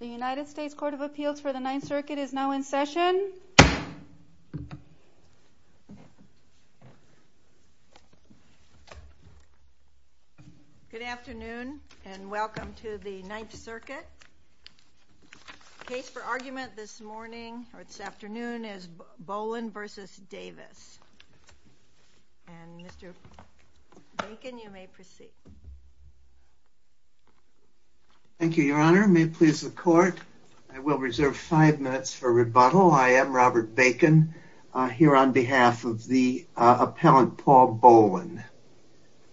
The United States Court of Appeals for the Ninth Circuit is now in session. Good afternoon and welcome to the Ninth Circuit. The case for argument this morning, or this afternoon, is Bolin v. Davis. Mr. Bacon, you may proceed. Thank you, Your Honor. May it please the Court, I will reserve five minutes for rebuttal. I am Robert Bacon, here on behalf of the appellant Paul Bolin.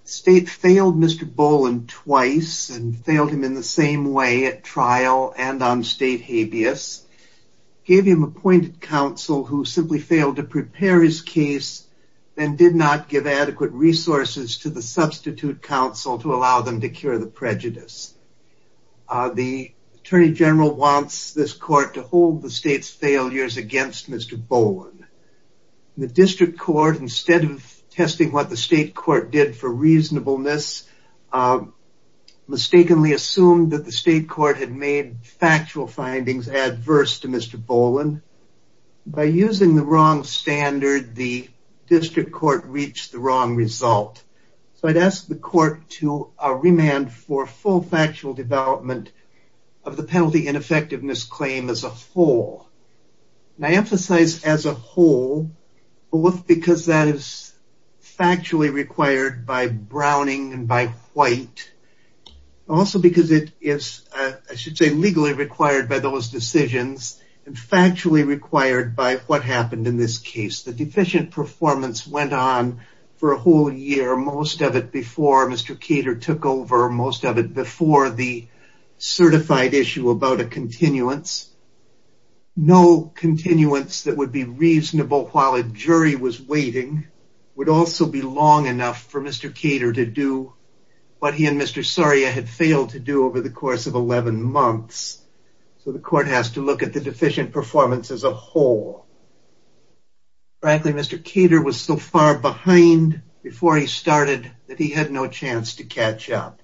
The State failed Mr. Bolin twice and failed him in the same way at trial and on State habeas. Gave him appointed counsel who simply failed to prepare his case and did not give adequate resources to the substitute counsel to allow them to cure the prejudice. The Attorney General wants this Court to hold the State's failures against Mr. Bolin. The District Court, instead of testing what the State Court did for reasonableness, mistakenly assumed that the State Court had made factual findings adverse to Mr. Bolin. By using the wrong standard, the District Court reached the wrong result. I ask the Court to remand for full factual development of the penalty ineffectiveness claim as a whole. I emphasize as a whole, both because that is factually required by Browning and by White, also because it is, I should say, legally required by those decisions and factually required by what happened in this case. The deficient performance went on for a whole year, most of it before Mr. Cater took over, most of it before the certified issue about a continuance. No continuance that would be reasonable while a jury was waiting would also be long enough for Mr. Cater to do what he and Mr. Soria had failed to do over the course of 11 months. So the Court has to look at the deficient performance as a whole. Frankly, Mr. Cater was so far behind before he started that he had no chance to catch up.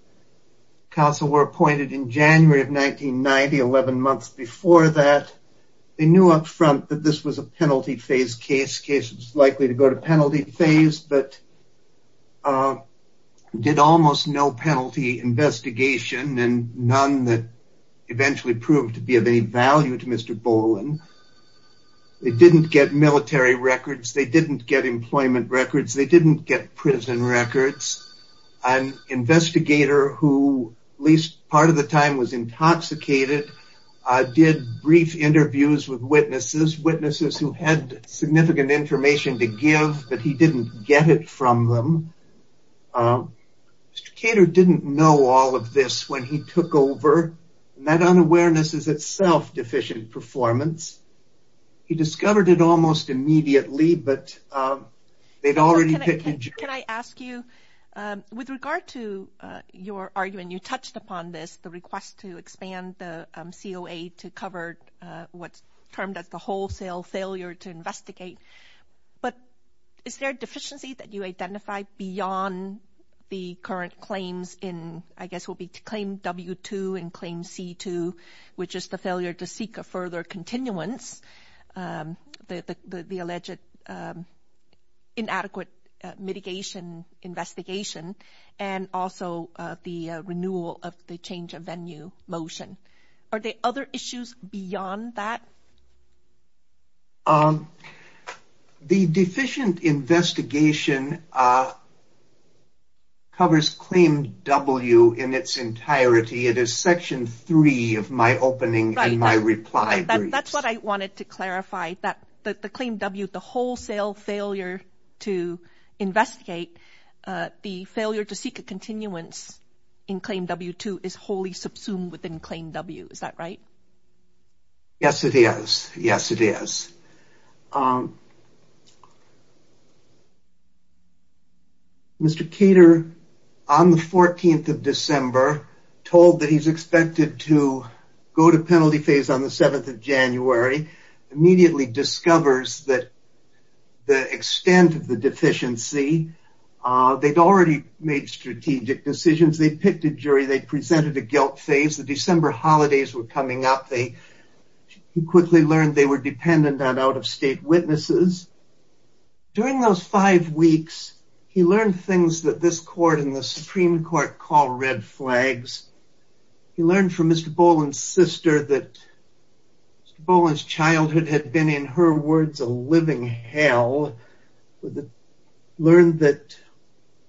Counsel were appointed in January of 1990, 11 months before that. They knew up front that this was a penalty phase case, case that was likely to go to penalty phase, but did almost no penalty investigation and none that eventually proved to be of any value to Mr. Bolin. They didn't get military records, they didn't get employment records, they didn't get prison records. An investigator who, at least part of the time, was intoxicated did brief interviews with witnesses, witnesses who had significant information to give, but he didn't get it from them. Mr. Cater didn't know all of this when he took over. That unawareness is itself deficient performance. He discovered it almost immediately, but they'd already picked a jury. Can I ask you, with regard to your argument, you touched upon this, the request to expand the COA to cover what's termed as the wholesale failure to investigate, but is there a deficiency that you identify beyond the current claims in, I guess, will be to claim W-2 and claim C-2, which is the failure to seek a further continuance, the alleged inadequate mitigation investigation, and also the renewal of the change of venue motion. Are there other issues beyond that? The deficient investigation covers claim W in its entirety. It is Section 3 of my opening and my reply briefs. That's what I wanted to clarify, that the claim W, the wholesale failure to investigate, the failure to seek a continuance in claim W-2 is wholly subsumed within claim W. Is that right? Yes, it is. Yes, it is. Mr. Cater, on the 14th of December, told that he's expected to go to penalty phase on the 7th of January, immediately discovers that the extent of the deficiency, they'd already made strategic decisions, they'd picked a jury, they presented a guilt phase, the December holidays were coming up, he quickly learned they were dependent on out-of-state witnesses. During those five weeks, he learned things that this court and the Supreme Court call red flags. He learned from Mr. Boland's sister that Mr. Boland's childhood had been, in her words, a living hell. He learned that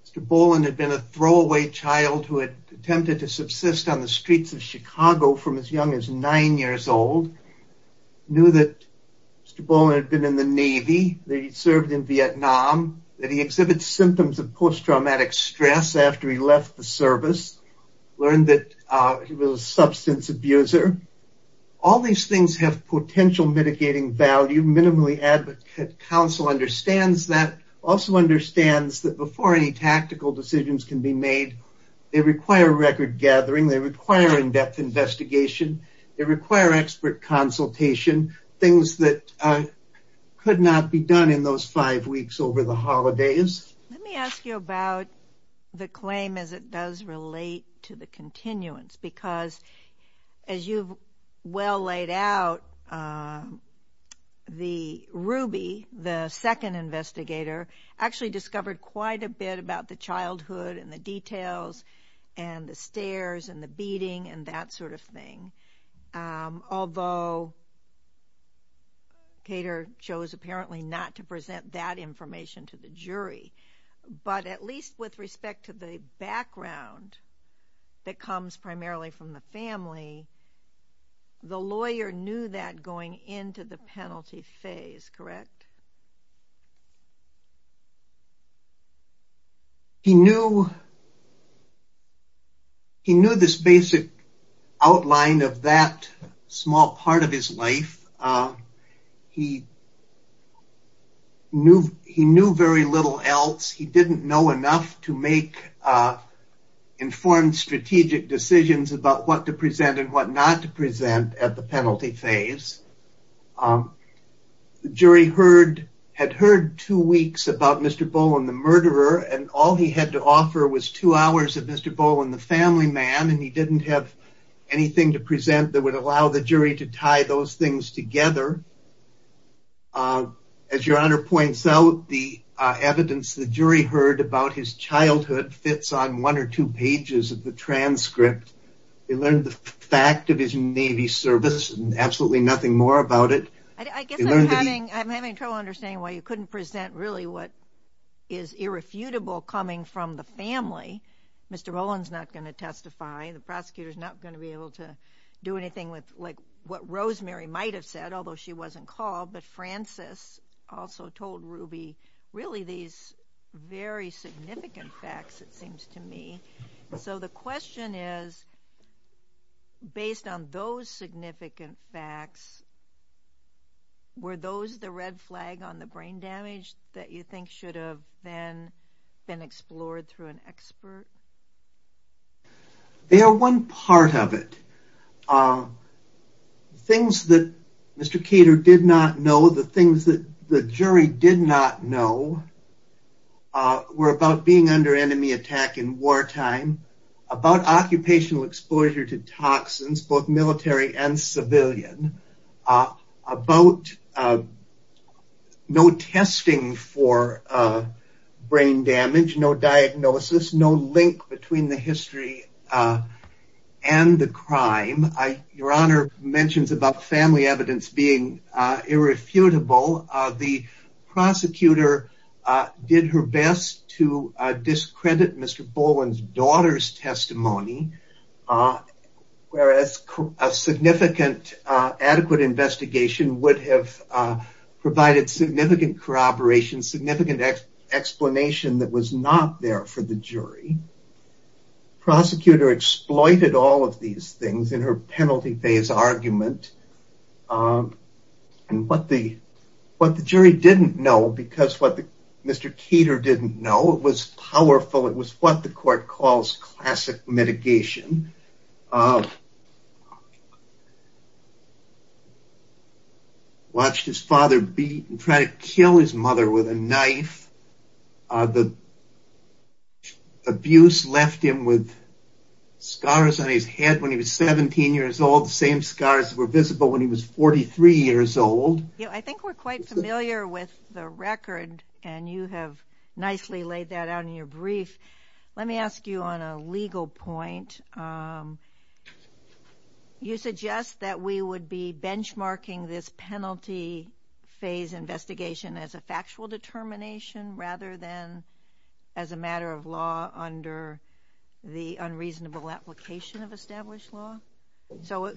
Mr. Boland had been a throwaway child who had attempted to subsist on the streets of Chicago from as young as nine years old, knew that Mr. Boland had been in the Navy, that he'd served in Vietnam, that he exhibits symptoms of post-traumatic stress after he left the service, learned that he was a substance abuser. All these things have potential mitigating value, minimally advocate counsel understands that, also understands that before any tactical decisions can be made, they require record gathering, they require in-depth investigation, they require expert consultation, things that could not be done in those five weeks over the holidays. Let me ask you about the claim as it does relate to the continuance, because as you've well laid out, the Ruby, the second investigator, actually discovered quite a bit about the childhood and the details and the stares and the beating and that sort of thing, although Cater chose apparently not to present that information to the jury, but at least with respect to the background that comes primarily from the family, the lawyer knew that going into the penalty phase, correct? He knew this basic outline of that small part of his life. He knew very little else. He didn't know enough to make informed strategic decisions about what to present and what not to present at the penalty phase. The jury had heard two weeks about Mr. Bowen, the murderer, and all he had to offer was two hours of Mr. Bowen, the family man, and he didn't have anything to present that would allow the jury to tie those things together. As Your Honor points out, the evidence the jury heard about his childhood fits on one or two pages of the transcript. They learned the fact of his Navy service and absolutely nothing more about it. I guess I'm having trouble understanding why you couldn't present really what is irrefutable coming from the family. Mr. Bowen's not going to testify. The prosecutor's not going to be able to do anything with what Rosemary might have said, although she wasn't called, but Frances also told Ruby really these very significant facts, it seems to me. The question is, based on those significant facts, were those the red flag on the brain damage that you think should have been explored through an expert? They are one part of it. Things that Mr. Kater did not know, the things that the jury did not know, were about being under enemy attack in wartime, about occupational exposure to toxins, both military and civilian, about no testing for brain damage, no diagnosis, no link between the history and the crime. Your Honor mentions about family evidence being irrefutable. The prosecutor did her best to discredit Mr. Bowen's daughter's testimony, whereas a significant adequate investigation would have provided significant corroboration, significant explanation that was not there for the jury. Prosecutor exploited all of these things in her penalty phase argument. What the jury didn't know, because what Mr. Kater didn't know, it was powerful, it was what the court calls classic mitigation. Watched his father beat and try to kill his mother with a knife. The abuse left him with scars on his head when he was 17 years old, the same scars were visible when he was 43 years old. I think we're quite familiar with the record, and you have nicely laid that out in your brief. Let me ask you on a legal point. You suggest that we would be benchmarking this penalty phase investigation as a factual determination rather than as a matter of law under the unreasonable application of established law? Is it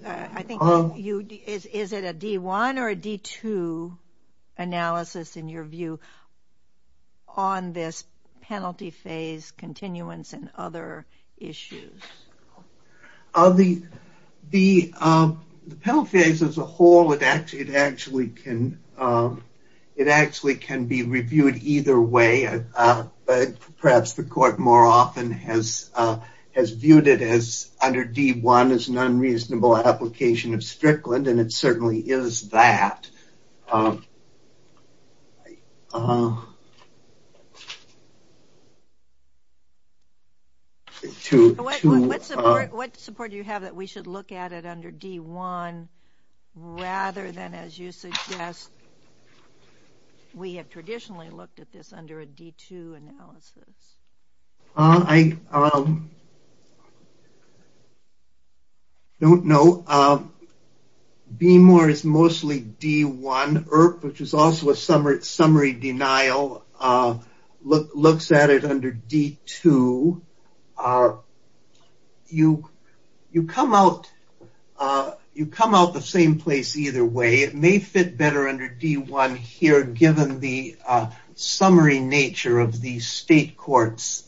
a D1 or a D2 analysis in your view on this penalty phase continuance and other issues? The penalty phase as a whole, it actually can be reviewed either way. Perhaps the court more often has viewed it as under D1 as an unreasonable application of Strickland, and it certainly is that. What support do you have that we should look at it under D1 rather than, as you suggest, we have traditionally looked at this under a D2 analysis? I don't know. BMOR is mostly D1. IRP, which is also a summary denial, looks at it under D2. You come out the same place either way. It may fit better under D1 here given the summary nature of the state court's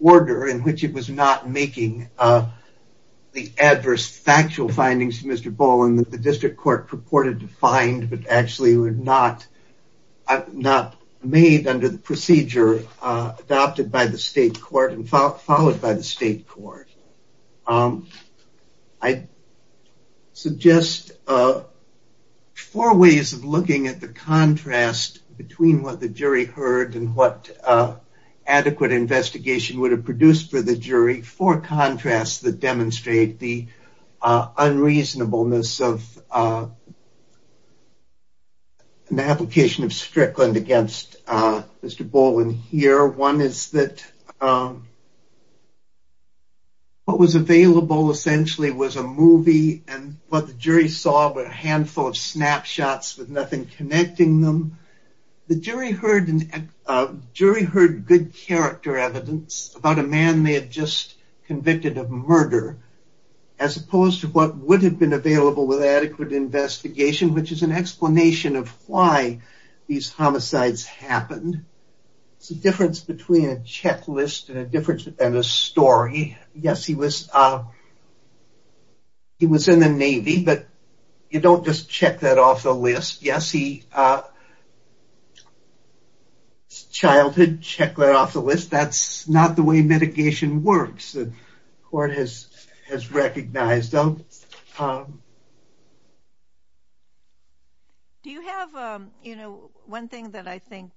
order in which it was not making the adverse factual findings to Mr. Boland that the district court purported to find but actually were not made under the procedure adopted by the state court and followed by the state court. I suggest four ways of looking at the contrast between what the jury heard and what adequate investigation would have produced for the jury, four contrasts that demonstrate the unreasonableness of an application of Strickland against Mr. Boland here. One is that what was available essentially was a movie, and what the jury saw were a handful of snapshots with nothing connecting them. The jury heard good character evidence about a man they had just convicted of murder, as opposed to what would have been available with adequate investigation, which is an explanation of why these homicides happened. There's a difference between a checklist and a story. Yes, he was in the Navy, but you don't just check that off the list. Yes, his childhood, check that off the list. That's not the way mitigation works, the court has recognized. Do you have one thing that I think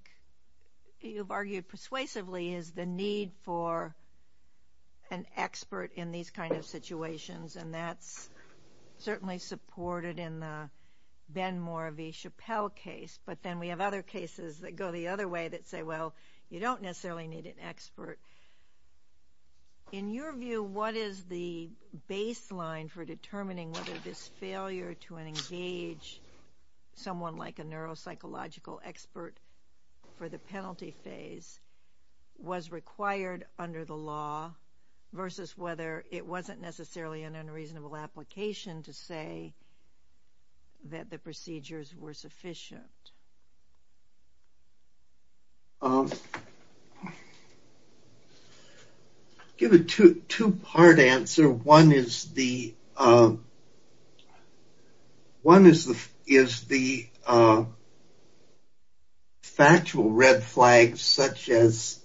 you've argued persuasively is the need for an expert in these kinds of situations, and that's certainly supported in the Benmore v. Chappelle case, but then we have other cases that go the other way that say, well, you don't necessarily need an expert. In your view, what is the baseline for determining whether this failure to engage someone like a neuropsychological expert for the penalty phase was required under the law versus whether it wasn't necessarily an unreasonable application to say that the procedures were sufficient? I'll give a two-part answer. One is the factual red flags, such as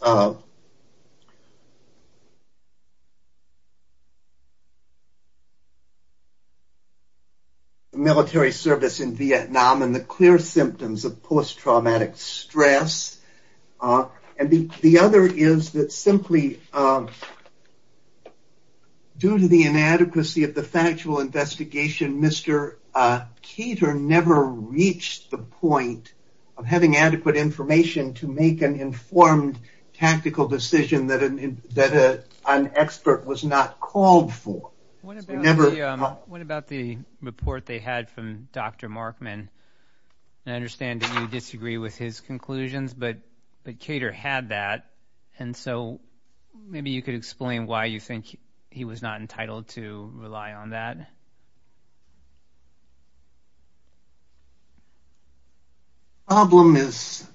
military service in Vietnam and the clear symptoms of post-traumatic stress. The other is that simply due to the inadequacy of the factual investigation, Mr. Keeter never reached the point of having adequate information to make an informed tactical decision that an expert was not called for. What about the report they had from Dr. Markman? I understand that you disagree with his conclusions, but Keeter had that, and so maybe you could explain why you think he was not entitled to rely on that. The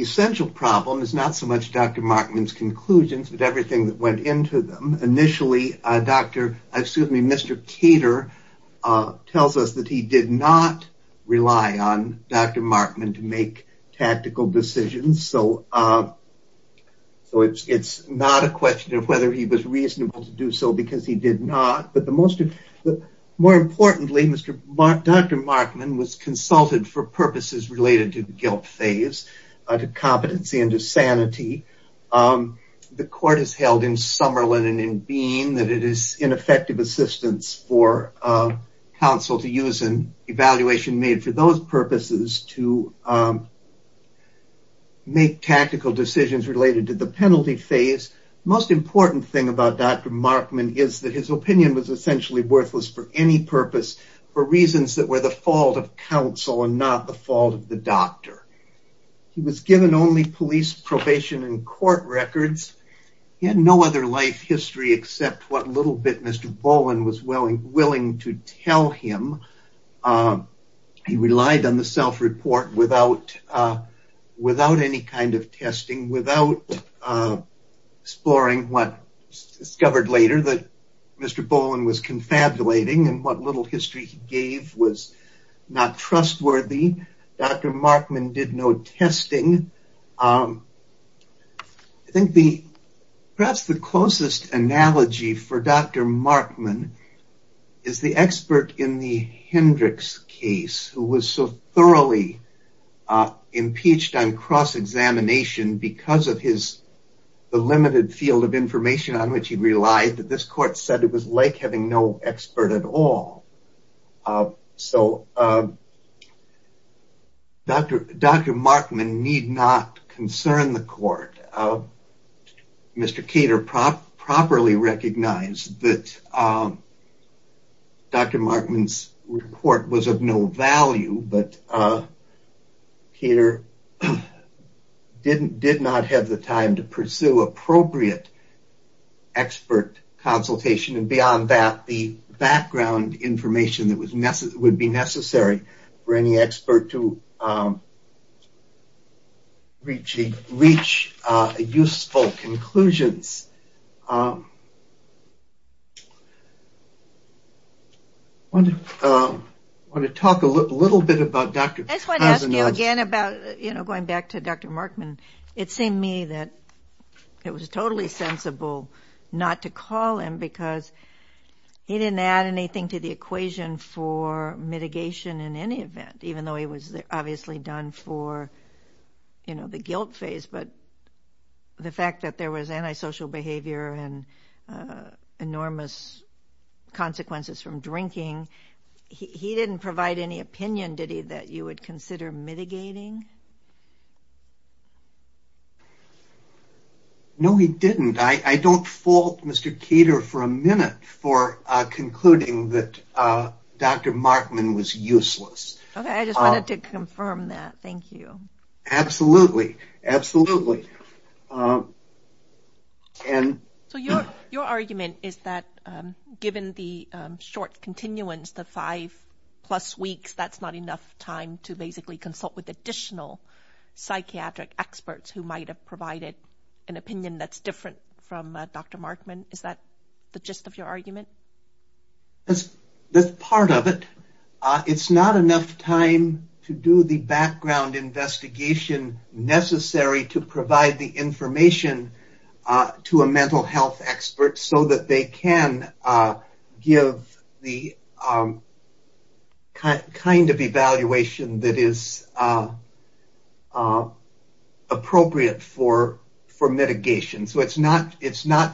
essential problem is not so much Dr. Markman's conclusions, but everything that went into them. Initially, Mr. Keeter tells us that he did not rely on Dr. Markman to make tactical decisions, so it's not a question of whether he was reasonable to do so, because he did not. More importantly, Dr. Markman was consulted for purposes related to the guilt phase, to competency and to sanity. The court has held in Summerlin and in Bean that it is ineffective assistance for counsel to use an evaluation made for those purposes to make tactical decisions related to the penalty phase. The most important thing about Dr. Markman is that his opinion was essentially worthless for any purpose, for reasons that were the fault of counsel and not the fault of the doctor. He was given only police probation and court records. He had no other life history except what little bit Mr. Boland was willing to tell him. He relied on the self-report without any kind of testing, without exploring what was discovered later that Mr. Boland was confabulating, and what little history he gave was not trustworthy. Dr. Markman did no testing. I think perhaps the closest analogy for Dr. Markman is the expert in the Hendricks case, who was so thoroughly impeached on cross-examination because of the limited field of information on which he relied, that this court said it was like having no expert at all. So, Dr. Markman need not concern the court. Mr. Cater properly recognized that Dr. Markman's report was of no value, but Cater did not have the time to pursue appropriate expert consultation, and beyond that, the background information that would be necessary for any expert to reach useful conclusions. I want to talk a little bit about Dr. Cason. I just want to ask you again about, you know, going back to Dr. Markman. It seemed to me that it was totally sensible not to call him because he didn't add anything to the equation for mitigation in any event, even though he was obviously done for, you know, the guilt phase, but the fact that there was antisocial behavior and enormous consequences from drinking, he didn't provide any opinion, did he, that you would consider mitigating? No, he didn't. I don't fault Mr. Cater for a minute for concluding that Dr. Markman was useless. Okay, I just wanted to confirm that. Thank you. Absolutely. Absolutely. So, your argument is that given the short continuance, the five-plus weeks, that's not enough time to basically consult with additional psychiatric experts who might have provided an opinion that's different from Dr. Markman. Is that the gist of your argument? That's part of it. It's not enough time to do the background investigation necessary to provide the information to a mental health expert so that they can give the kind of evaluation that is appropriate for mitigation. So, it's not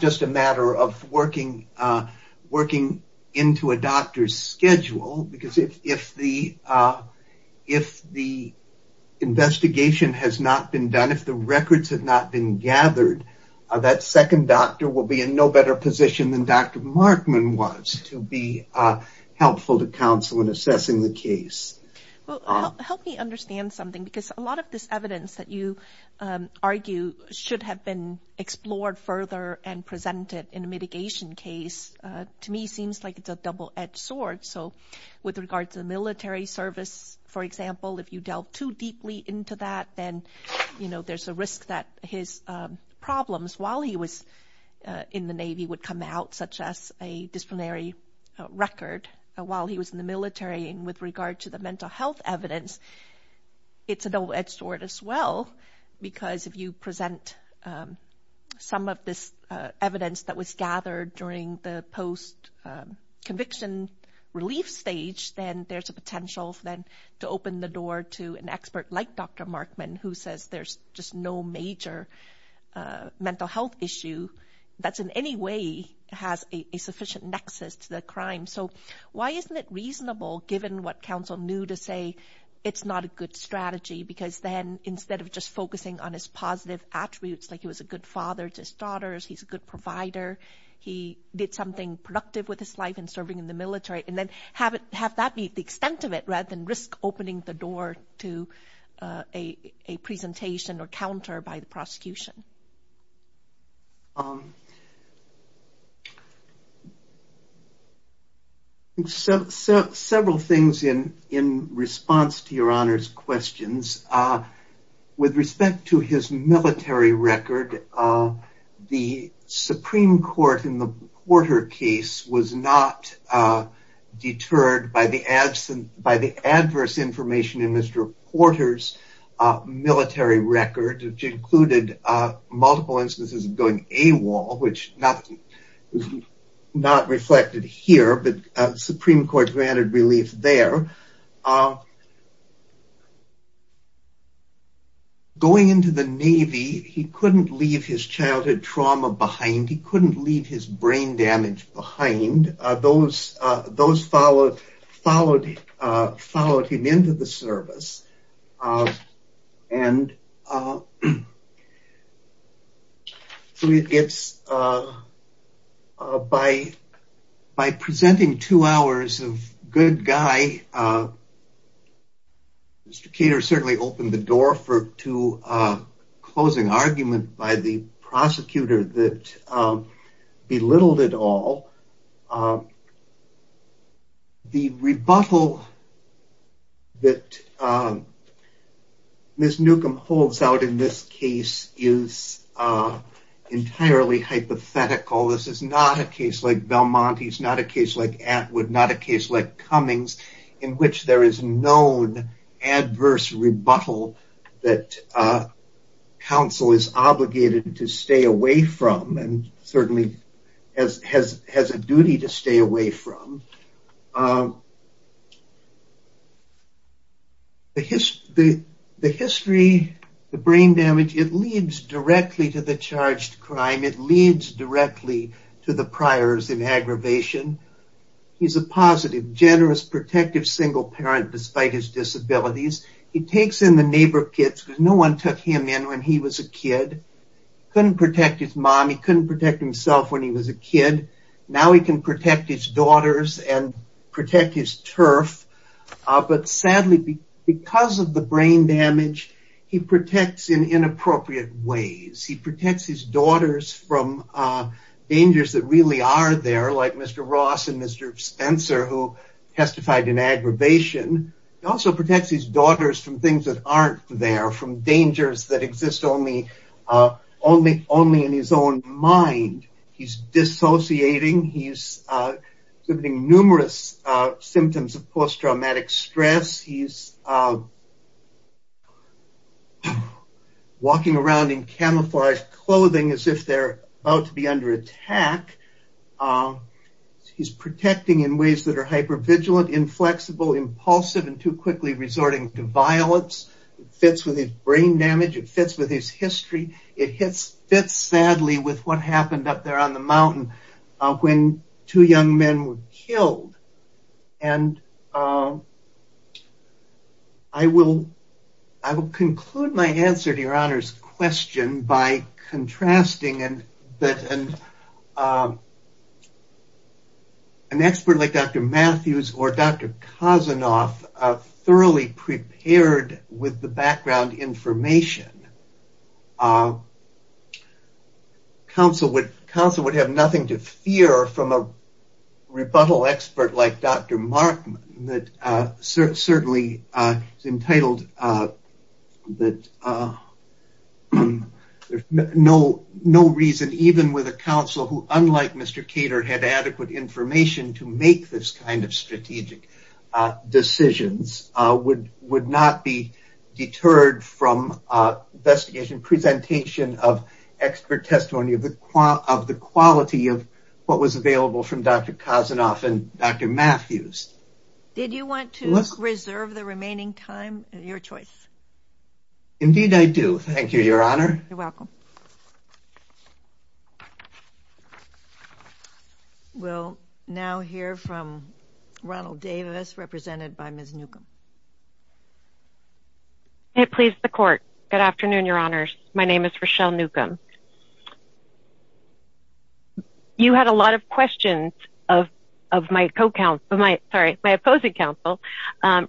just a matter of working into a doctor's schedule, because if the investigation has not been done, if the records have not been gathered, that second doctor will be in no better position than Dr. Markman was to be helpful to counsel in assessing the case. Well, help me understand something, because a lot of this evidence that you argue should have been explored further and presented in a mitigation case, to me, seems like it's a double-edged sword. So, with regard to the military service, for example, if you delve too deeply into that, then, you know, there's a risk that his problems while he was in the Navy would come out, such as a disciplinary record while he was in the military. And with regard to the mental health evidence, it's a double-edged sword as well, because if you present some of this evidence that was gathered during the post-conviction relief stage, then there's a potential for them to open the door to an expert like Dr. Markman, who says there's just no major mental health issue that in any way has a sufficient nexus to the crime. So why isn't it reasonable, given what counsel knew, to say it's not a good strategy, because then instead of just focusing on his positive attributes, like he was a good father to his daughters, he's a good provider, he did something productive with his life in serving in the military, and then have that be the extent of it rather than risk opening the door to a presentation or counter by the prosecution. Several things in response to Your Honor's questions. With respect to his military record, the Supreme Court, in the Porter case, was not deterred by the adverse information in Mr. Porter's military record, which included multiple instances of going AWOL, which is not reflected here, but the Supreme Court granted relief there. Going into the Navy, he couldn't leave his childhood trauma behind, he couldn't leave his brain damage behind. Those followed him into the service. By presenting two hours of good guy, Mr. Kater certainly opened the door to a closing argument by the prosecutor that belittled it all. The rebuttal that Ms. Newcomb holds out in this case is entirely hypothetical. This is not a case like Belmonte's, not a case like Atwood, not a case like Cummings, in which there is known adverse rebuttal that counsel is obligated to stay away from, and certainly has a duty to stay away from. The history, the brain damage, it leads directly to the charged crime, it leads directly to the priors in aggravation. He's a positive, generous, protective single parent, despite his disabilities. He takes in the neighbor kids, because no one took him in when he was a kid. He couldn't protect his mom, he couldn't protect himself when he was a kid. Now he can protect his daughters and protect his turf, but sadly, because of the brain damage, he protects in inappropriate ways. He protects his daughters from dangers that really are there, like Mr. Ross and Mr. Spencer, who testified in aggravation. He also protects his daughters from things that aren't there, from dangers that exist only in his own mind. He's dissociating, he's exhibiting numerous symptoms of post-traumatic stress. He's walking around in camouflaged clothing as if they're about to be under attack. He's protecting in ways that are hypervigilant, inflexible, impulsive, and too quickly resorting to violence. It fits with his brain damage, it fits with his history, it fits sadly with what happened up there on the mountain when two young men were killed. I will conclude my answer to your Honor's question by contrasting an expert like Dr. Matthews or Dr. Kosanoff, who are thoroughly prepared with the background information, counsel would have nothing to fear from a rebuttal expert like Dr. Markman, that certainly is entitled that no reason, even with a counsel who, unlike Mr. Cater, had adequate information to make this kind of strategic decisions, would not be deterred from investigation, presentation of expert testimony of the quality of what was available from Dr. Kosanoff and Dr. Matthews. Did you want to reserve the remaining time, your choice? Indeed I do, thank you, Your Honor. You're welcome. We'll now hear from Ronald Davis, represented by Ms. Newcomb. May it please the Court, good afternoon, Your Honors. My name is Rochelle Newcomb. You had a lot of questions of my opposing counsel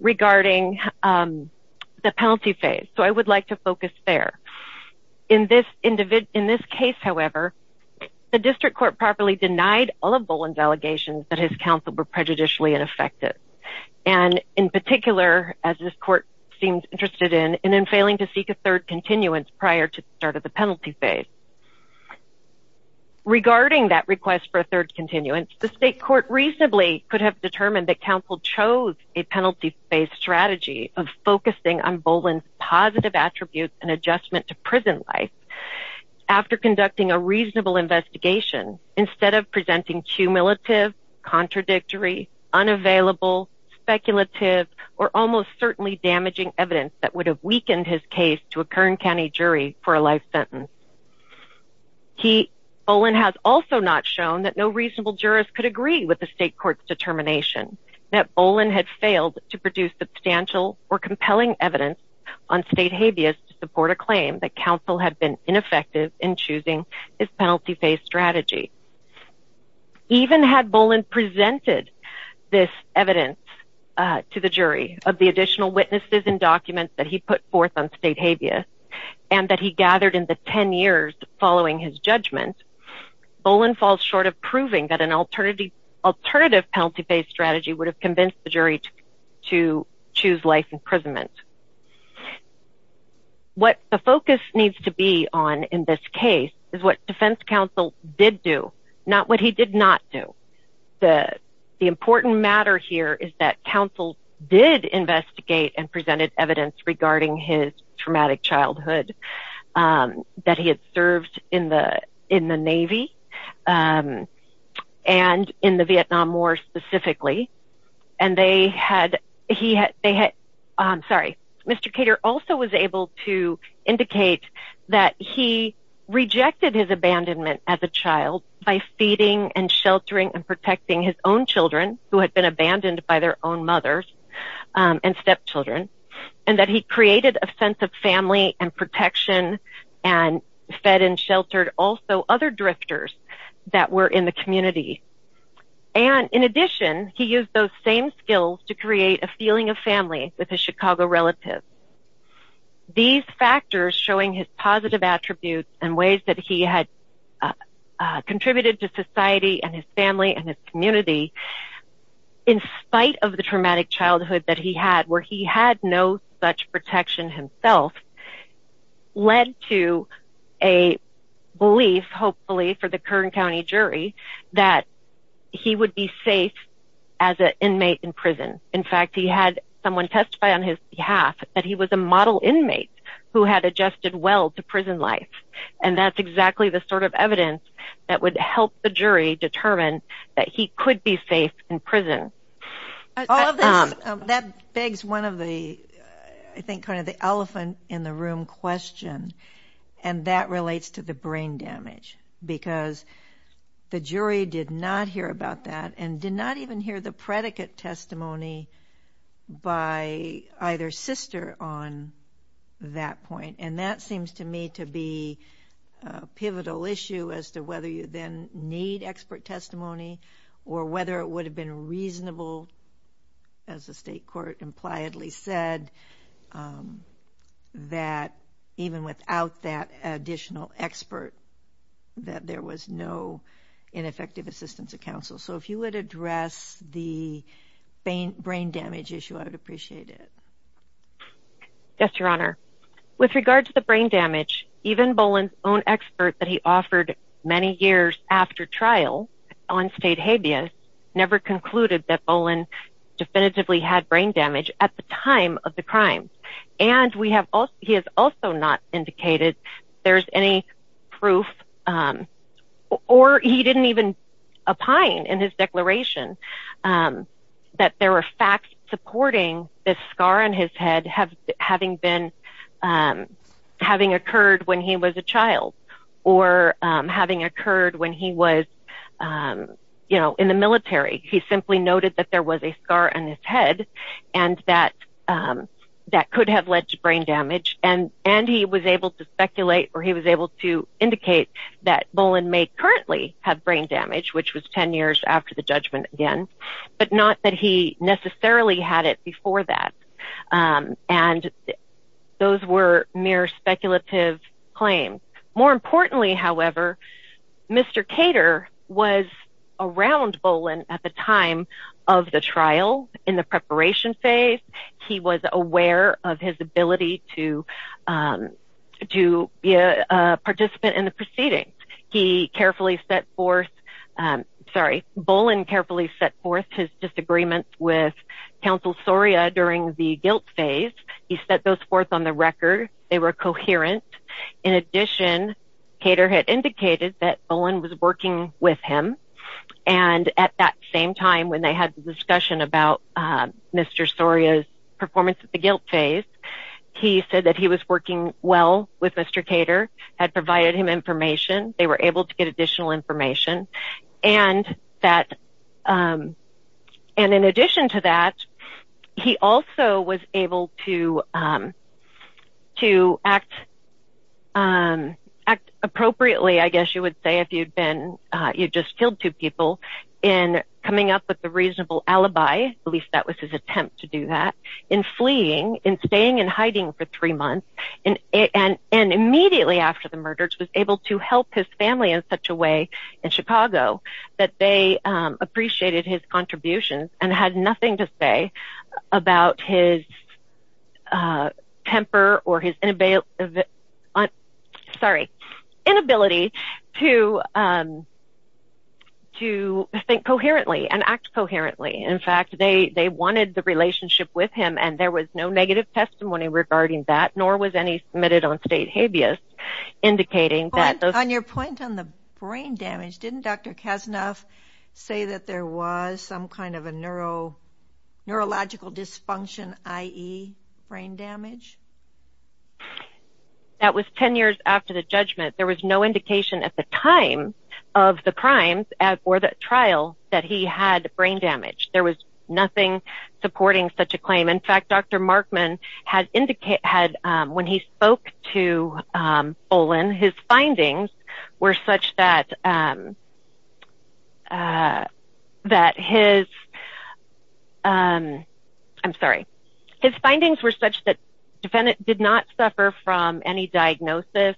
regarding the penalty phase, so I would like to focus there. In this case, however, the district court properly denied all of Boland's allegations that his counsel were prejudicially ineffective, and in particular, as this court seems interested in, in failing to seek a third continuance prior to the start of the penalty phase. Regarding that request for a third continuance, the state court reasonably could have determined that counsel chose a penalty phase strategy of focusing on Boland's positive attributes and adjustment to prison life after conducting a reasonable investigation, instead of presenting cumulative, contradictory, unavailable, speculative, or almost certainly damaging evidence that would have weakened his case to a Kern County jury for a life sentence. Boland has also not shown that no reasonable jurist could agree with the state court's determination that Boland had failed to produce substantial or compelling evidence on state habeas to support a claim that counsel had been ineffective in choosing his penalty phase strategy. Even had Boland presented this evidence to the jury of the additional witnesses and documents that he put forth on state habeas, and that he gathered in the ten years following his judgment, Boland falls short of proving that an alternative penalty phase strategy would have convinced the jury to choose life imprisonment. What the focus needs to be on in this case is what defense counsel did do, not what he did not do. The important matter here is that counsel did investigate and presented evidence regarding his traumatic childhood, that he had served in the Navy, and in the Vietnam War specifically. Mr. Kater also was able to indicate that he rejected his abandonment as a child by feeding and sheltering and protecting his own children, who had been abandoned by their own mothers and stepchildren, and that he created a sense of family and protection and fed and sheltered also other drifters that were in the community. In addition, he used those same skills to create a feeling of family with his Chicago relatives. These factors showing his positive attributes and ways that he had contributed to society and his family and his community, in spite of the traumatic childhood that he had, where he had no such protection himself, led to a belief, hopefully for the Kern County jury, that he would be safe as an inmate in prison. In fact, he had someone testify on his behalf that he was a model inmate who had adjusted well to prison life, and that's exactly the sort of evidence that would help the jury determine that he could be safe in prison. All of this, that begs one of the, I think, kind of the elephant in the room question, and that relates to the brain damage, because the jury did not hear about that and did not even hear the predicate testimony by either sister on that point, and that seems to me to be a pivotal issue as to whether you then need expert testimony or whether it would have been reasonable, as the state court impliedly said, that even without that additional expert, that there was no ineffective assistance of counsel. So if you would address the brain damage issue, I would appreciate it. Yes, Your Honor. With regard to the brain damage, even Boland's own expert that he offered many years after trial on state habeas never concluded that Boland definitively had brain damage at the time of the crime, and he has also not indicated there's any proof, or he didn't even opine in his declaration that there were facts supporting the scar on his head having occurred when he was a child or having occurred when he was in the military. He simply noted that there was a scar on his head and that that could have led to brain damage, and he was able to speculate or he was able to indicate that Boland may currently have brain damage, which was 10 years after the judgment again, but not that he necessarily had it before that, and those were mere speculative claims. More importantly, however, Mr. Cater was around Boland at the time of the trial in the preparation phase. He was aware of his ability to be a participant in the proceedings. He carefully set forth, sorry, Boland carefully set forth his disagreements with Counsel Soria during the guilt phase. He set those forth on the record. They were coherent. In addition, Cater had indicated that Boland was working with him, and at that same time when they had the discussion about Mr. Soria's performance at the guilt phase, he said that he was working well with Mr. Cater, had provided him information. They were able to get additional information, and in addition to that, he also was able to act appropriately, I guess you would say if you'd just killed two people, in coming up with a reasonable alibi, at least that was his attempt to do that, in fleeing, in staying in hiding for three months, and immediately after the murders was able to help his family in such a way in Chicago that they appreciated his contributions and had nothing to say about his temper or his inability to think coherently and act coherently. In fact, they wanted the relationship with him, and there was no negative testimony regarding that, nor was any submitted on state habeas, indicating that those... On your point on the brain damage, didn't Dr. Kasnoff say that there was some kind of a neurological dysfunction, i.e. brain damage? That was ten years after the judgment. There was no indication at the time of the crimes or the trial that he had brain damage. There was nothing supporting such a claim. In fact, Dr. Markman, when he spoke to Olin, his findings were such that... His findings were such that the defendant did not suffer from any diagnosis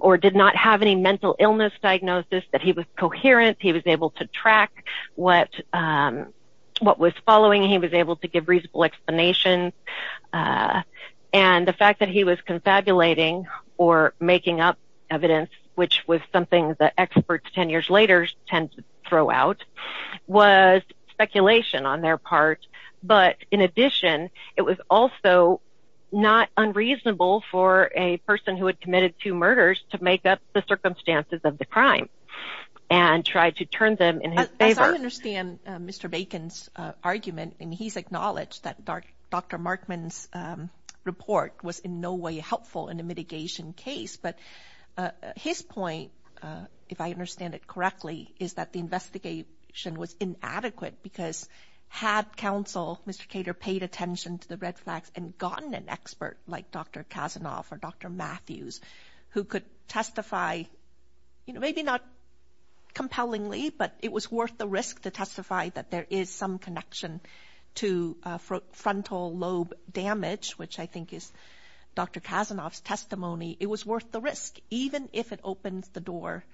or did not have any mental illness diagnosis, that he was coherent, he was able to track what was following, he was able to give reasonable explanations, and the fact that he was confabulating or making up evidence, which was something that experts ten years later tend to throw out, was speculation on their part. But in addition, it was also not unreasonable for a person who had committed two murders to make up the circumstances of the crime and try to turn them in his favor. As I understand Mr. Bacon's argument, and he's acknowledged that Dr. Markman's report was in no way helpful in a mitigation case, but his point, if I understand it correctly, is that the investigation was inadequate because had counsel, Mr. Cater, paid attention to the red flags and gotten an expert like Dr. Kasnoff or Dr. Matthews, who could testify, maybe not compellingly, but it was worth the risk to testify that there is some connection to frontal lobe damage, which I think is Dr. Kasnoff's testimony, it was worth the risk, even if it opens the door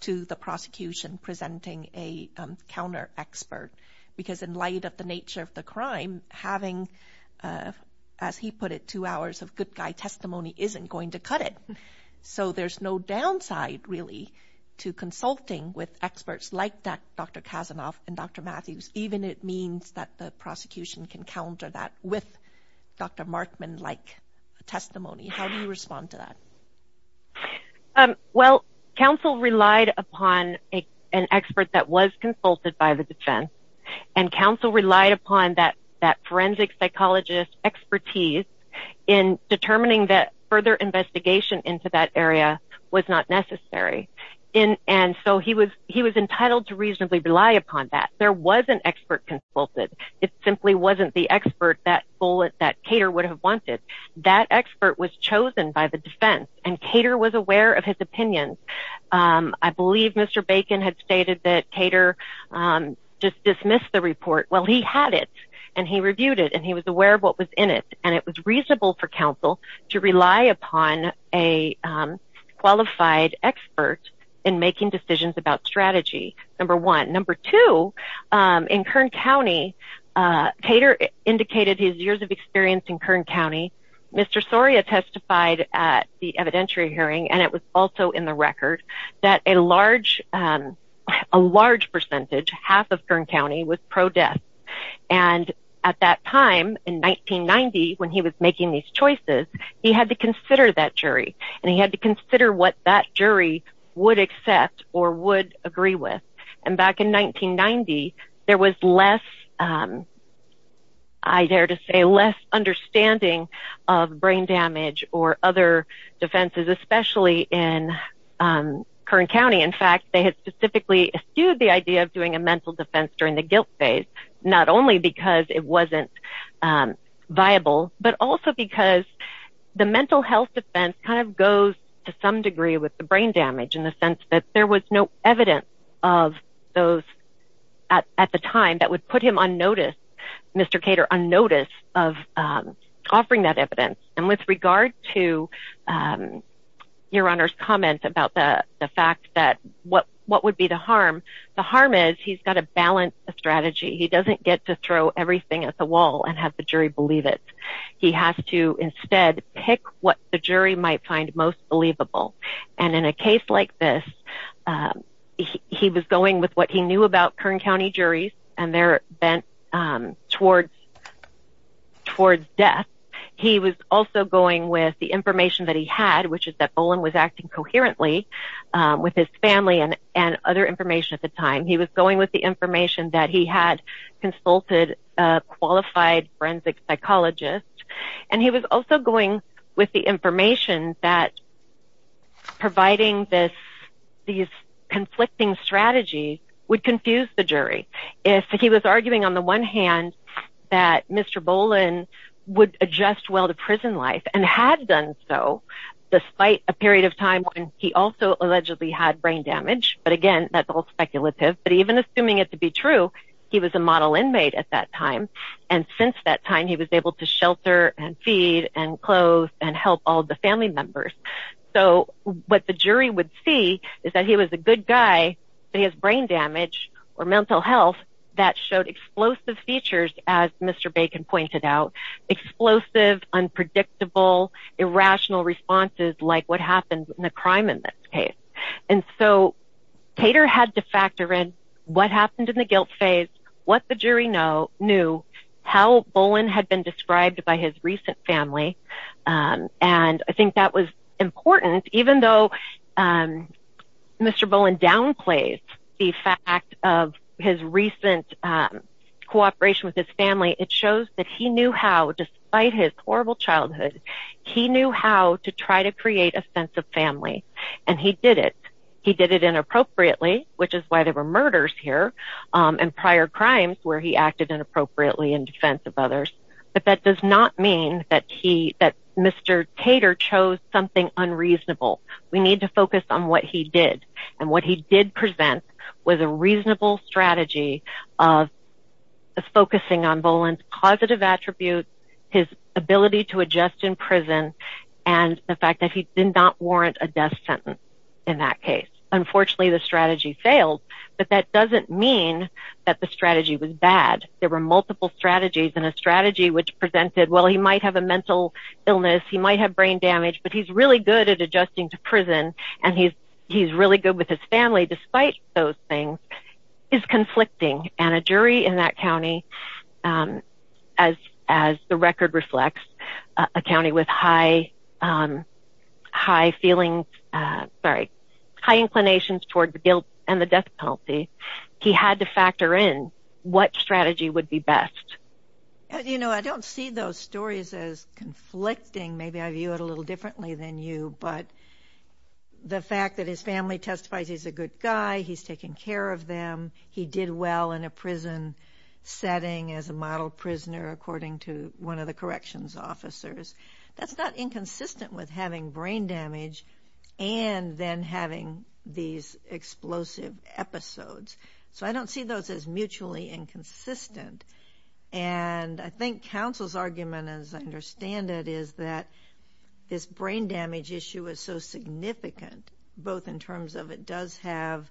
to the prosecution presenting a counter-expert. Because in light of the nature of the crime, having, as he put it, two hours of good guy testimony isn't going to cut it. So there's no downside, really, to consulting with experts like Dr. Kasnoff and Dr. Matthews, even if it means that the prosecution can counter that with Dr. Markman-like testimony. How do you respond to that? Well, counsel relied upon an expert that was consulted by the defense, and counsel relied upon that forensic psychologist's expertise in determining that further investigation into that area was not necessary. And so he was entitled to reasonably rely upon that. There was an expert consulted. It simply wasn't the expert that Cater would have wanted. That expert was chosen by the defense, and Cater was aware of his opinions. I believe Mr. Bacon had stated that Cater dismissed the report. Well, he had it, and he reviewed it, and he was aware of what was in it, and it was reasonable for counsel to rely upon a qualified expert in making decisions about strategy, number one. Number two, in Kern County, Cater indicated his years of experience in Kern County. Mr. Soria testified at the evidentiary hearing, and it was also in the record, that a large percentage, half of Kern County, was pro-death. And at that time, in 1990, when he was making these choices, he had to consider that jury, and he had to consider what that jury would accept or would agree with. And back in 1990, there was less, I dare to say, less understanding of brain damage or other defenses, especially in Kern County. In fact, they had specifically eschewed the idea of doing a mental defense during the guilt phase, not only because it wasn't viable, but also because the mental health defense kind of goes to some degree with the brain damage in the sense that there was no evidence of those, at the time, that would put him on notice, Mr. Cater, on notice of offering that evidence. And with regard to Your Honor's comment about the fact that what would be the harm, the harm is he's got to balance a strategy. He doesn't get to throw everything at the wall and have the jury believe it. He has to instead pick what the jury might find most believable. And in a case like this, he was going with what he knew about Kern County juries, and they're bent towards death. He was also going with the information that he had, which is that Olin was acting coherently with his family and other information at the time. He was going with the information that he had consulted a qualified forensic psychologist, and he was also going with the information that providing this conflicting strategy would confuse the jury. If he was arguing on the one hand that Mr. Bolin would adjust well to prison life, and had done so despite a period of time when he also allegedly had brain damage, but again, that's all speculative. But even assuming it to be true, he was a model inmate at that time, and since that time he was able to shelter and feed and clothe and help all the family members. So what the jury would see is that he was a good guy, but he has brain damage or mental health that showed explosive features, as Mr. Bacon pointed out, explosive, unpredictable, irrational responses like what happens in a crime in this case. And so Tater had to factor in what happened in the guilt phase, what the jury knew, how Bolin had been described by his recent family, and I think that was important. Even though Mr. Bolin downplayed the fact of his recent cooperation with his family, it shows that he knew how, despite his horrible childhood, he knew how to try to create a sense of family, and he did it. He did it inappropriately, which is why there were murders here, and prior crimes where he acted inappropriately in defense of others. But that does not mean that Mr. Tater chose something unreasonable. We need to focus on what he did, and what he did present was a reasonable strategy of focusing on Bolin's positive attributes, his ability to adjust in prison, and the fact that he did not warrant a death sentence in that case. Unfortunately, the strategy failed, but that doesn't mean that the strategy was bad. There were multiple strategies, and a strategy which presented, well, he might have a mental illness, he might have brain damage, but he's really good at adjusting to prison, and he's really good with his family despite those things, is conflicting. And a jury in that county, as the record reflects, a county with high feelings, sorry, high inclinations toward guilt and the death penalty, he had to factor in what strategy would be best. You know, I don't see those stories as conflicting. Maybe I view it a little differently than you, but the fact that his family testifies he's a good guy, he's taking care of them, he did well in a prison setting as a model prisoner, according to one of the corrections officers, that's not inconsistent with having brain damage and then having these explosive episodes. So I don't see those as mutually inconsistent. And I think counsel's argument, as I understand it, is that this brain damage issue is so significant, both in terms of it does have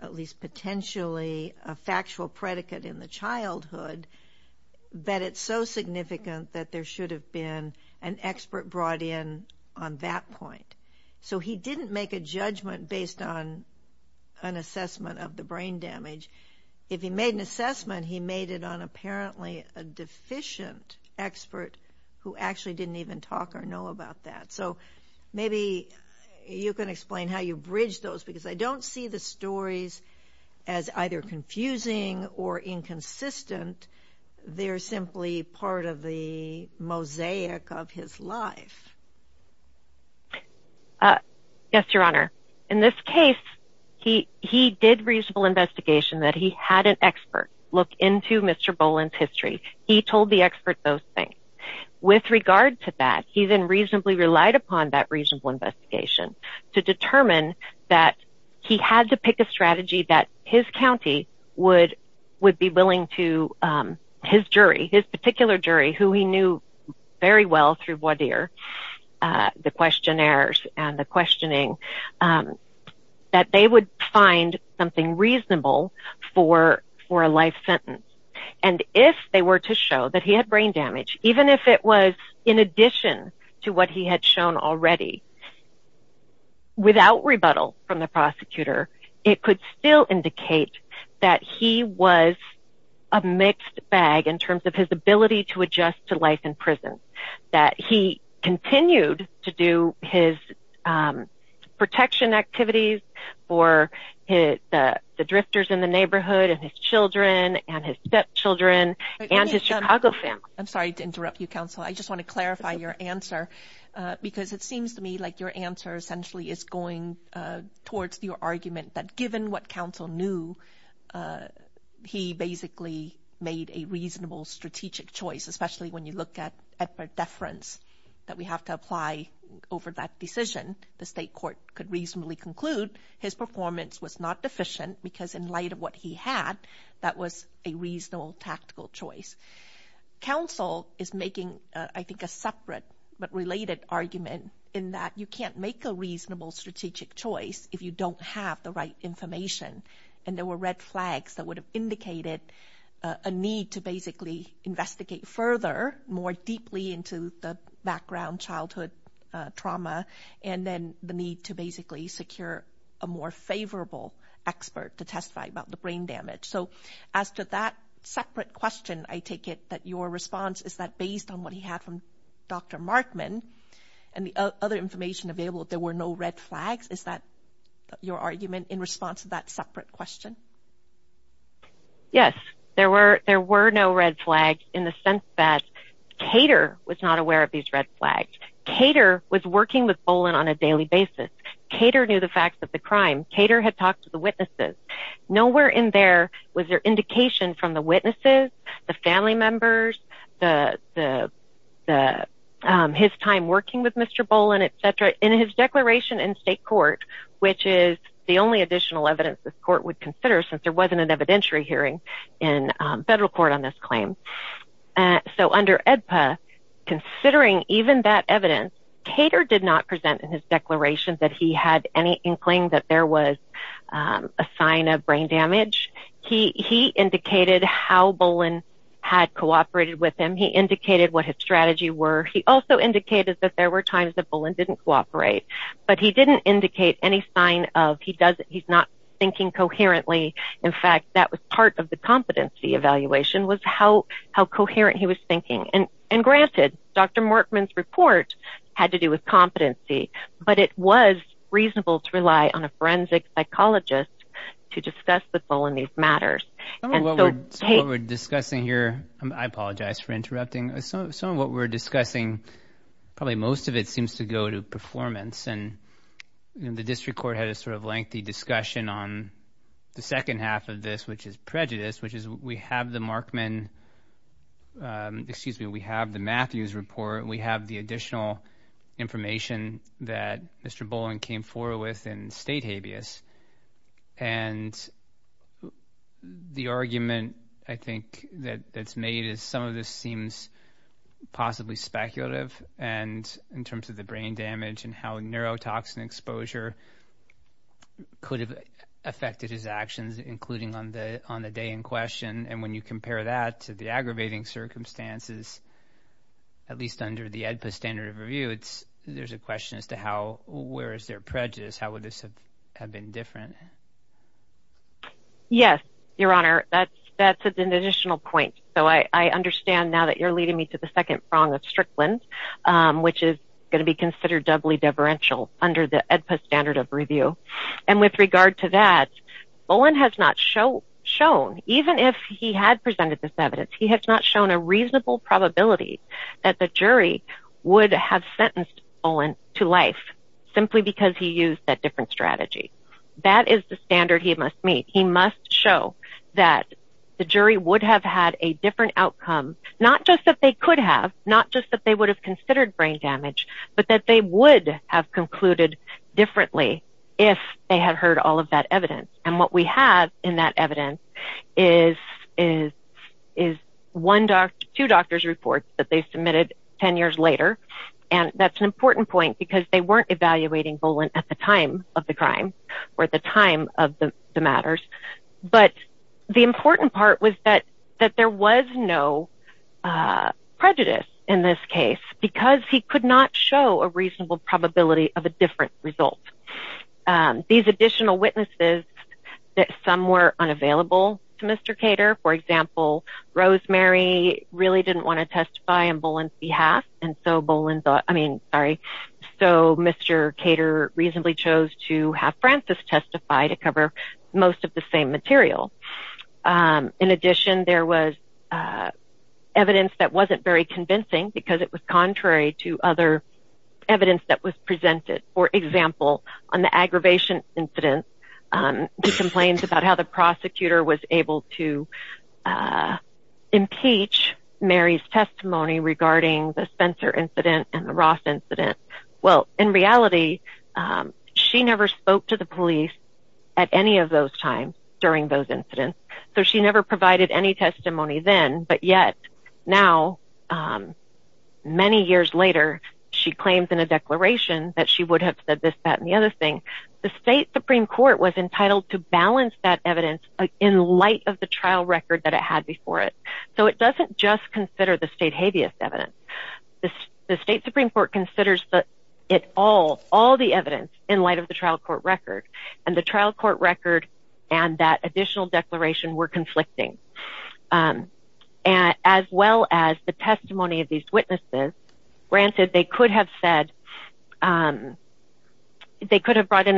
at least potentially a factual predicate in the childhood, but it's so significant that there should have been an expert brought in on that point. So he didn't make a judgment based on an assessment of the brain damage. If he made an assessment, he made it on apparently a deficient expert who actually didn't even talk or know about that. So maybe you can explain how you bridge those, because I don't see the stories as either confusing or inconsistent. They're simply part of the mosaic of his life. Yes, Your Honor. In this case, he did reasonable investigation that he had an expert look into Mr. Boland's history. He told the expert those things. With regard to that, he then reasonably relied upon that reasonable investigation to determine that he had to pick a strategy that his county would be willing to his jury, his particular jury who he knew very well through voir dire, the questionnaires and the questioning, that they would find something reasonable for a life sentence. If they were to show that he had brain damage, even if it was in addition to what he had shown already, without rebuttal from the prosecutor, it could still indicate that he was a mixed bag in terms of his ability to adjust to life in prison, that he continued to do his protection activities for the drifters in the neighborhood and his children and his stepchildren and his Chicago family. I'm sorry to interrupt you, counsel. I just want to clarify your answer, because it seems to me like your answer essentially is going towards your argument that given what counsel knew, he basically made a reasonable strategic choice, especially when you look at deference that we have to apply over that decision. The state court could reasonably conclude his performance was not deficient because in light of what he had, that was a reasonable tactical choice. Counsel is making, I think, a separate but related argument in that you can't make a reasonable strategic choice if you don't have the right information. And there were red flags that would have indicated a need to basically investigate further, more deeply into the background childhood trauma, and then the need to basically secure a more favorable expert to testify about the brain damage. So as to that separate question, I take it that your response is that based on what he had from Dr. Markman and the other information available, there were no red flags? Is that your argument in response to that separate question? Yes. There were no red flags in the sense that Cater was not aware of these red flags. Cater was working with Bolin on a daily basis. Cater knew the facts of the crime. Cater had talked to the witnesses. Nowhere in there was there indication from the witnesses, the family members, his time working with Mr. Bolin, et cetera, in his declaration in state court, which is the only additional evidence this court would consider since there wasn't an evidentiary hearing in federal court on this claim. So under AEDPA, considering even that evidence, Cater did not present in his declaration that he had any inkling that there was a sign of brain damage. He indicated how Bolin had cooperated with him. He indicated what his strategy were. He also indicated that there were times that Bolin didn't cooperate, but he didn't indicate any sign of he's not thinking coherently. In fact, that was part of the competency evaluation was how coherent he was thinking. Granted, Dr. Mortman's report had to do with competency, but it was reasonable to rely on a forensic psychologist to discuss with Bolin these matters. Some of what we're discussing here, I apologize for interrupting. Some of what we're discussing, probably most of it seems to go to performance. The district court had a sort of lengthy discussion on the second half of this, which is prejudice, which is we have the Markman, excuse me, we have the Matthews report. We have the additional information that Mr. Bolin came forward with in state habeas. And the argument, I think, that's made is some of this seems possibly speculative in terms of the brain damage and how neurotoxin exposure could have affected his actions, including on the day in question. And when you compare that to the aggravating circumstances, at least under the AEDPA standard of review, there's a question as to where is there prejudice? How would this have been different? Yes, Your Honor. That's an additional point. So I understand now that you're leading me to the second prong of Strickland, which is going to be considered doubly deferential under the AEDPA standard of review. And with regard to that, Bolin has not shown, even if he had presented this evidence, he has not shown a reasonable probability that the jury would have sentenced Bolin to life simply because he used that different strategy. That is the standard he must meet. He must show that the jury would have had a different outcome, not just that they could have, not just that they would have considered brain damage, but that they would have concluded differently if they had heard all of that evidence. And what we have in that evidence is two doctor's reports that they submitted 10 years later. And that's an important point because they weren't evaluating Bolin at the time of the crime or at the time of the matters. But the important part was that there was no prejudice in this case because he could not show a reasonable probability of a different result. These additional witnesses, some were unavailable to Mr. Cater. For example, Rosemary really didn't want to testify on Bolin's behalf, so Mr. Cater reasonably chose to have Francis testify to cover most of the same material. In addition, there was evidence that wasn't very convincing because it was contrary to other evidence that was presented. For example, on the aggravation incident, he complains about how the prosecutor was able to impeach Mary's testimony regarding the Spencer incident and the Ross incident. Well, in reality, she never spoke to the police at any of those times during those incidents, so she never provided any testimony then. But yet, now, many years later, she claims in a declaration that she would have said this, that, and the other thing. The state Supreme Court was entitled to balance that evidence in light of the trial record that it had before it. So it doesn't just consider the state habeas evidence. The state Supreme Court considers all the evidence in light of the trial court record, and the trial court record and that additional declaration were conflicting, as well as the testimony of these witnesses. Granted, they could have brought in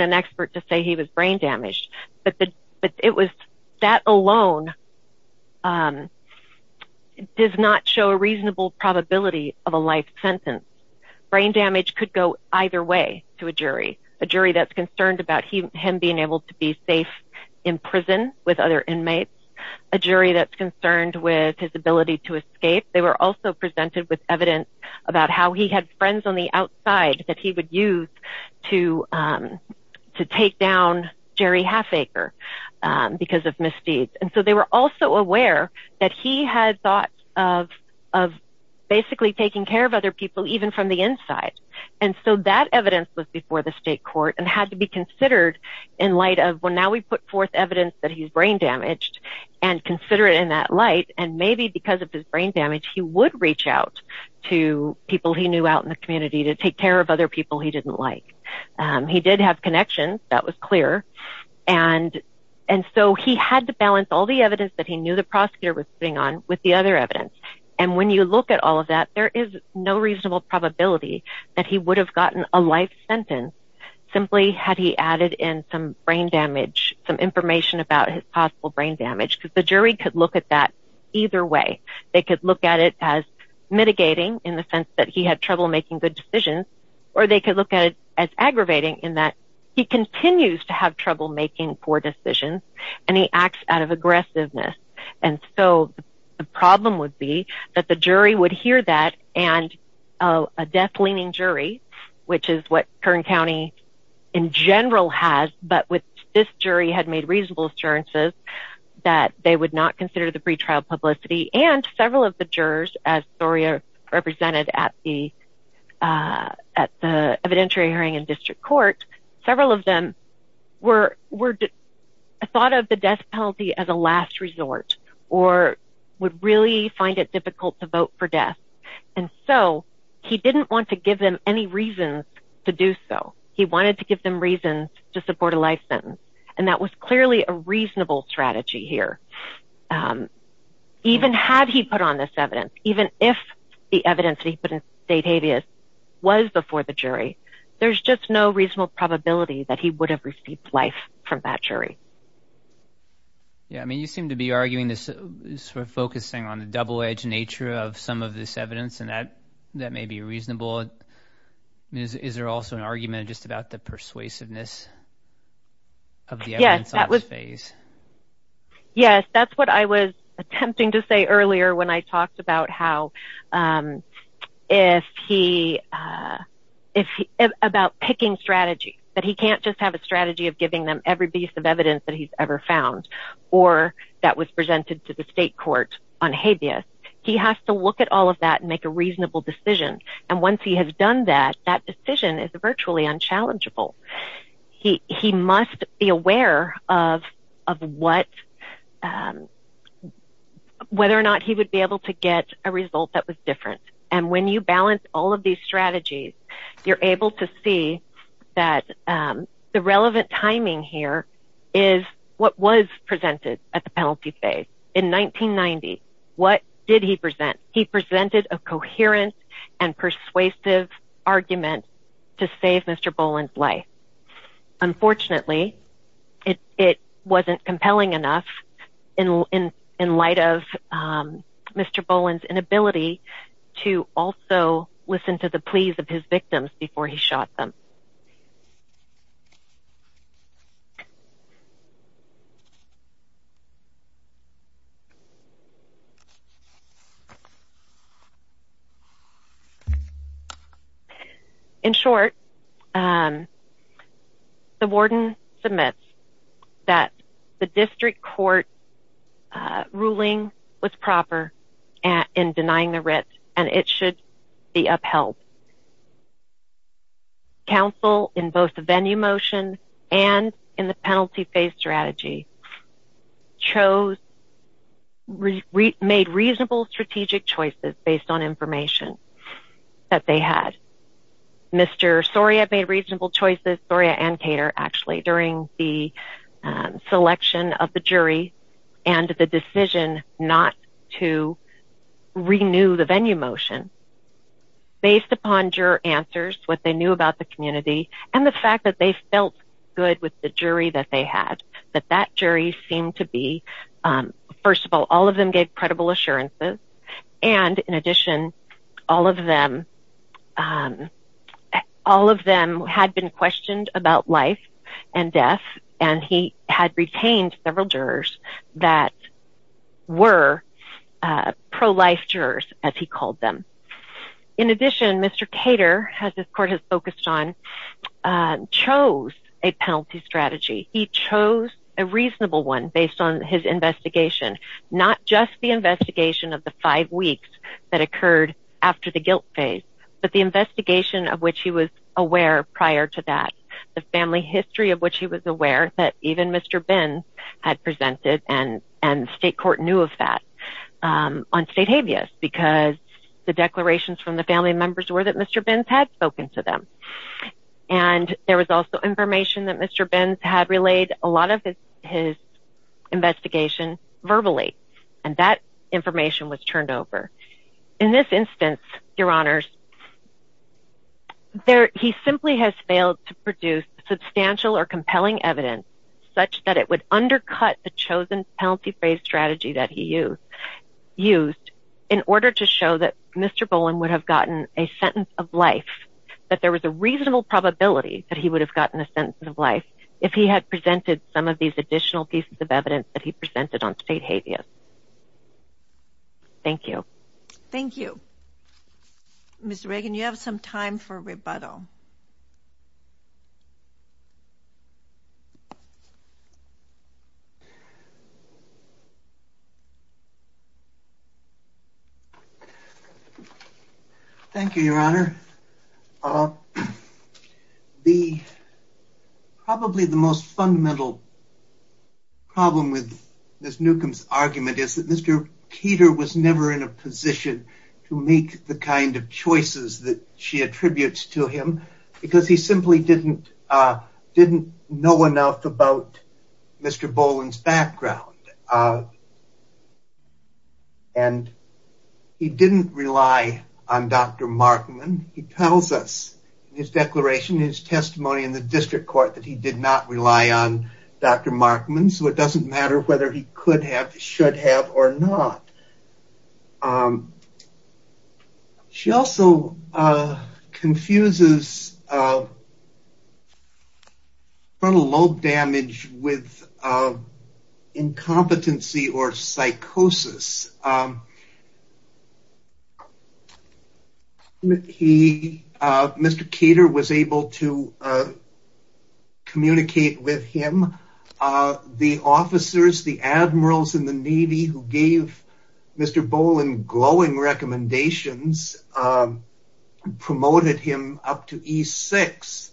an expert to say he was brain damaged, but that alone does not show a reasonable probability of a life sentence. Brain damage could go either way to a jury, a jury that's concerned about him being able to be safe in prison with other inmates, a jury that's concerned with his ability to escape. They were also presented with evidence about how he had friends on the outside that he would use to take down Jerry Halfacre because of misdeeds. And so they were also aware that he had thoughts of basically taking care of other people, even from the inside. And so that evidence was before the state court and had to be considered in light of, well, now we put forth evidence that he's brain damaged and consider it in that light, and maybe because of his brain damage, he would reach out to people he knew out in the community to take care of other people he didn't like. He did have connections. That was clear. And so he had to balance all the evidence that he knew the prosecutor was putting on with the other evidence. And when you look at all of that, there is no reasonable probability that he would have gotten a life sentence simply had he added in some brain damage, some information about his possible brain damage, because the jury could look at that either way. They could look at it as mitigating in the sense that he had trouble making good decisions, or they could look at it as aggravating in that he continues to have trouble making poor decisions, and he acts out of aggressiveness. And so the problem would be that the jury would hear that and a death-leaning jury, which is what Kern County in general has, but with this jury had made reasonable assurances that they would not consider the pretrial publicity and several of the jurors, as Zoria represented at the evidentiary hearing in district court, several of them thought of the death penalty as a last resort or would really find it difficult to vote for death. And so he didn't want to give them any reasons to do so. He wanted to give them reasons to support a life sentence, and that was clearly a reasonable strategy here. Even had he put on this evidence, even if the evidence that he put in state habeas was before the jury, there's just no reasonable probability that he would have received life from that jury. Yeah, I mean you seem to be arguing this sort of focusing on the double-edged nature of some of this evidence, and that may be reasonable. Is there also an argument just about the persuasiveness of the evidence on this phase? Yes, that's what I was attempting to say earlier when I talked about how if he, about picking strategies, that he can't just have a strategy of giving them every piece of evidence that he's ever found or that was presented to the state court on habeas. He has to look at all of that and make a reasonable decision, and once he has done that, that decision is virtually unchallengeable. He must be aware of whether or not he would be able to get a result that was different, and when you balance all of these strategies, you're able to see that the relevant timing here is what was presented at the penalty phase. In 1990, what did he present? He presented a coherent and persuasive argument to save Mr. Boland's life. Unfortunately, it wasn't compelling enough in light of Mr. Boland's inability to also listen to the pleas of his victims before he shot them. In short, the warden submits that the district court ruling was proper in denying the writ, and it should be upheld. Council, in both the venue motion and in the penalty phase strategy, made reasonable strategic choices based on information that they had. Mr. Soria made reasonable choices, Soria and Cater, actually, during the selection of the jury and the decision not to renew the venue motion based upon juror answers, what they knew about the community, and the fact that they felt good with the jury that they had, that that jury seemed to be, first of all, all of them gave credible assurances, and in addition, all of them had been questioned about life and death, and he had retained several jurors that were pro-life jurors, as he called them. In addition, Mr. Cater, as this court has focused on, chose a penalty strategy. He chose a reasonable one based on his investigation, not just the investigation of the five weeks that occurred after the guilt phase, but the investigation of which he was aware prior to that, the family history of which he was aware, that even Mr. Binns had presented, and state court knew of that, on state habeas, because the declarations from the family members were that Mr. Binns had spoken to them, and there was also information that Mr. Binns had relayed a lot of his investigation verbally, and that information was turned over. In this instance, Your Honors, he simply has failed to produce substantial or compelling evidence such that it would undercut the chosen penalty phase strategy that he used, in order to show that Mr. Bowen would have gotten a sentence of life, that there was a reasonable probability that he would have gotten a sentence of life, if he had presented some of these additional pieces of evidence that he presented on state habeas. Thank you. Thank you. Ms. Reagan, you have some time for rebuttal. Thank you, Your Honor. Probably the most fundamental problem with Ms. Newcomb's argument is that Mr. Keeter was never in a position to make the kind of choices that she attributes to him, because he simply didn't know enough about Mr. Bowen's background, and he didn't rely on Dr. Markman. He tells us in his declaration, in his testimony in the district court, that he did not rely on Dr. Markman, so it doesn't matter whether he could have, should have, or not. She also confuses frontal lobe damage with incompetency or psychosis. Mr. Keeter was able to communicate with him. The officers, the admirals in the Navy who gave Mr. Bowen glowing recommendations, promoted him up to E6,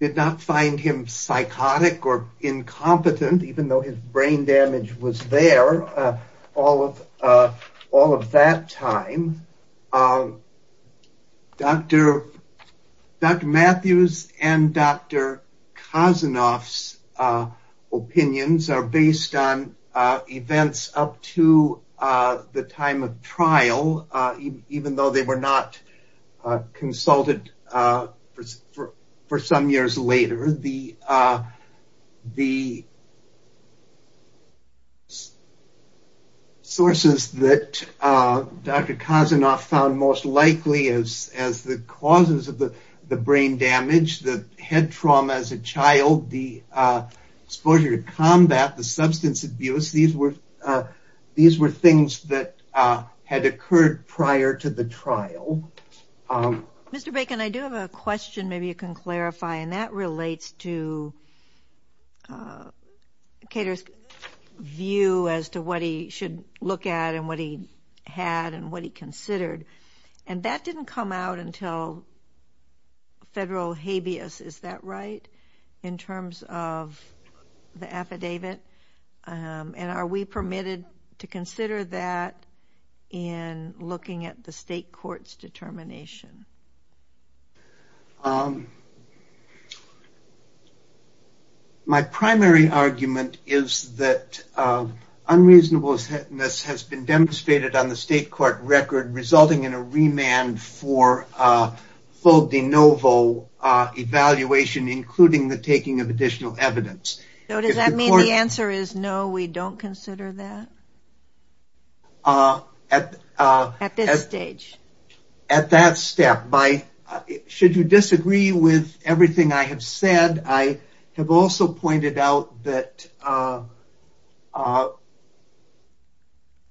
did not find him psychotic or incompetent, even though his brain damage was there all of that time. Dr. Matthews and Dr. Kosinoff's opinions are based on events up to the time of trial, even though they were not consulted for some years later. However, the sources that Dr. Kosinoff found most likely as the causes of the brain damage, the head trauma as a child, the exposure to combat, the substance abuse, these were things that had occurred prior to the trial. Mr. Bacon, I do have a question maybe you can clarify, and that relates to Keeter's view as to what he should look at and what he had and what he considered. And that didn't come out until federal habeas, is that right, in terms of the affidavit? And are we permitted to consider that in looking at the state court's determination? My primary argument is that unreasonableness has been demonstrated on the state court record, resulting in a remand for full de novo evaluation, including the taking of additional evidence. So does that mean the answer is no, we don't consider that at this stage? At that step. Should you disagree with everything I have said, I have also pointed out that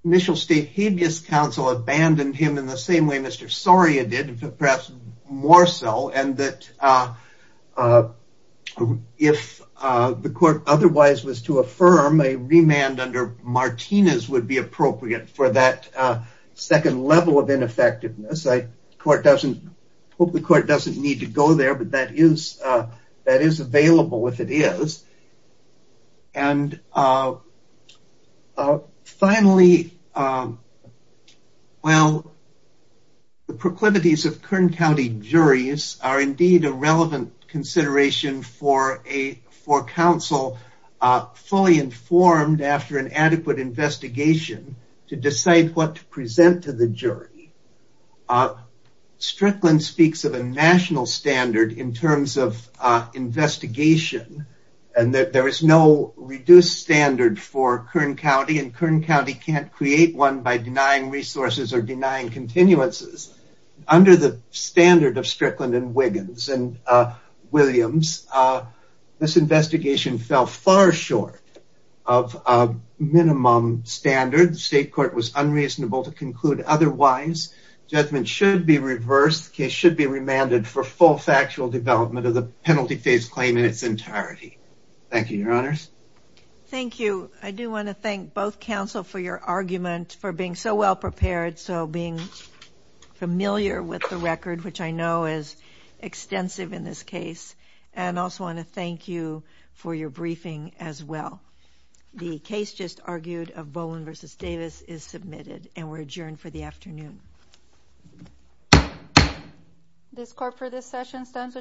initial state habeas counsel abandoned him in the same way Mr. Soria did, and perhaps more so, and that if the court otherwise was to affirm, a remand under Martinez would be appropriate for that second level of ineffectiveness. I hope the court doesn't need to go there, but that is available if it is. And finally, well, the proclivities of Kern County juries are indeed a relevant consideration for counsel fully informed after an adequate investigation to decide what to present to the jury. Strickland speaks of a national standard in terms of investigation, and that there is no reduced standard for Kern County, and Kern County can't create one by denying resources or denying continuances. Under the standard of Strickland and Wiggins and Williams, this investigation fell far short of a minimum standard. The state court was unreasonable to conclude otherwise. Judgment should be reversed. The case should be remanded for full factual development of the penalty phase claim in its entirety. Thank you, Your Honors. Thank you. I do want to thank both counsel for your argument, for being so well prepared, so being familiar with the record, which I know is extensive in this case, and also want to thank you for your briefing as well. The case just argued of Boland v. Davis is submitted, and we're adjourned for the afternoon. This court for this session stands adjourned.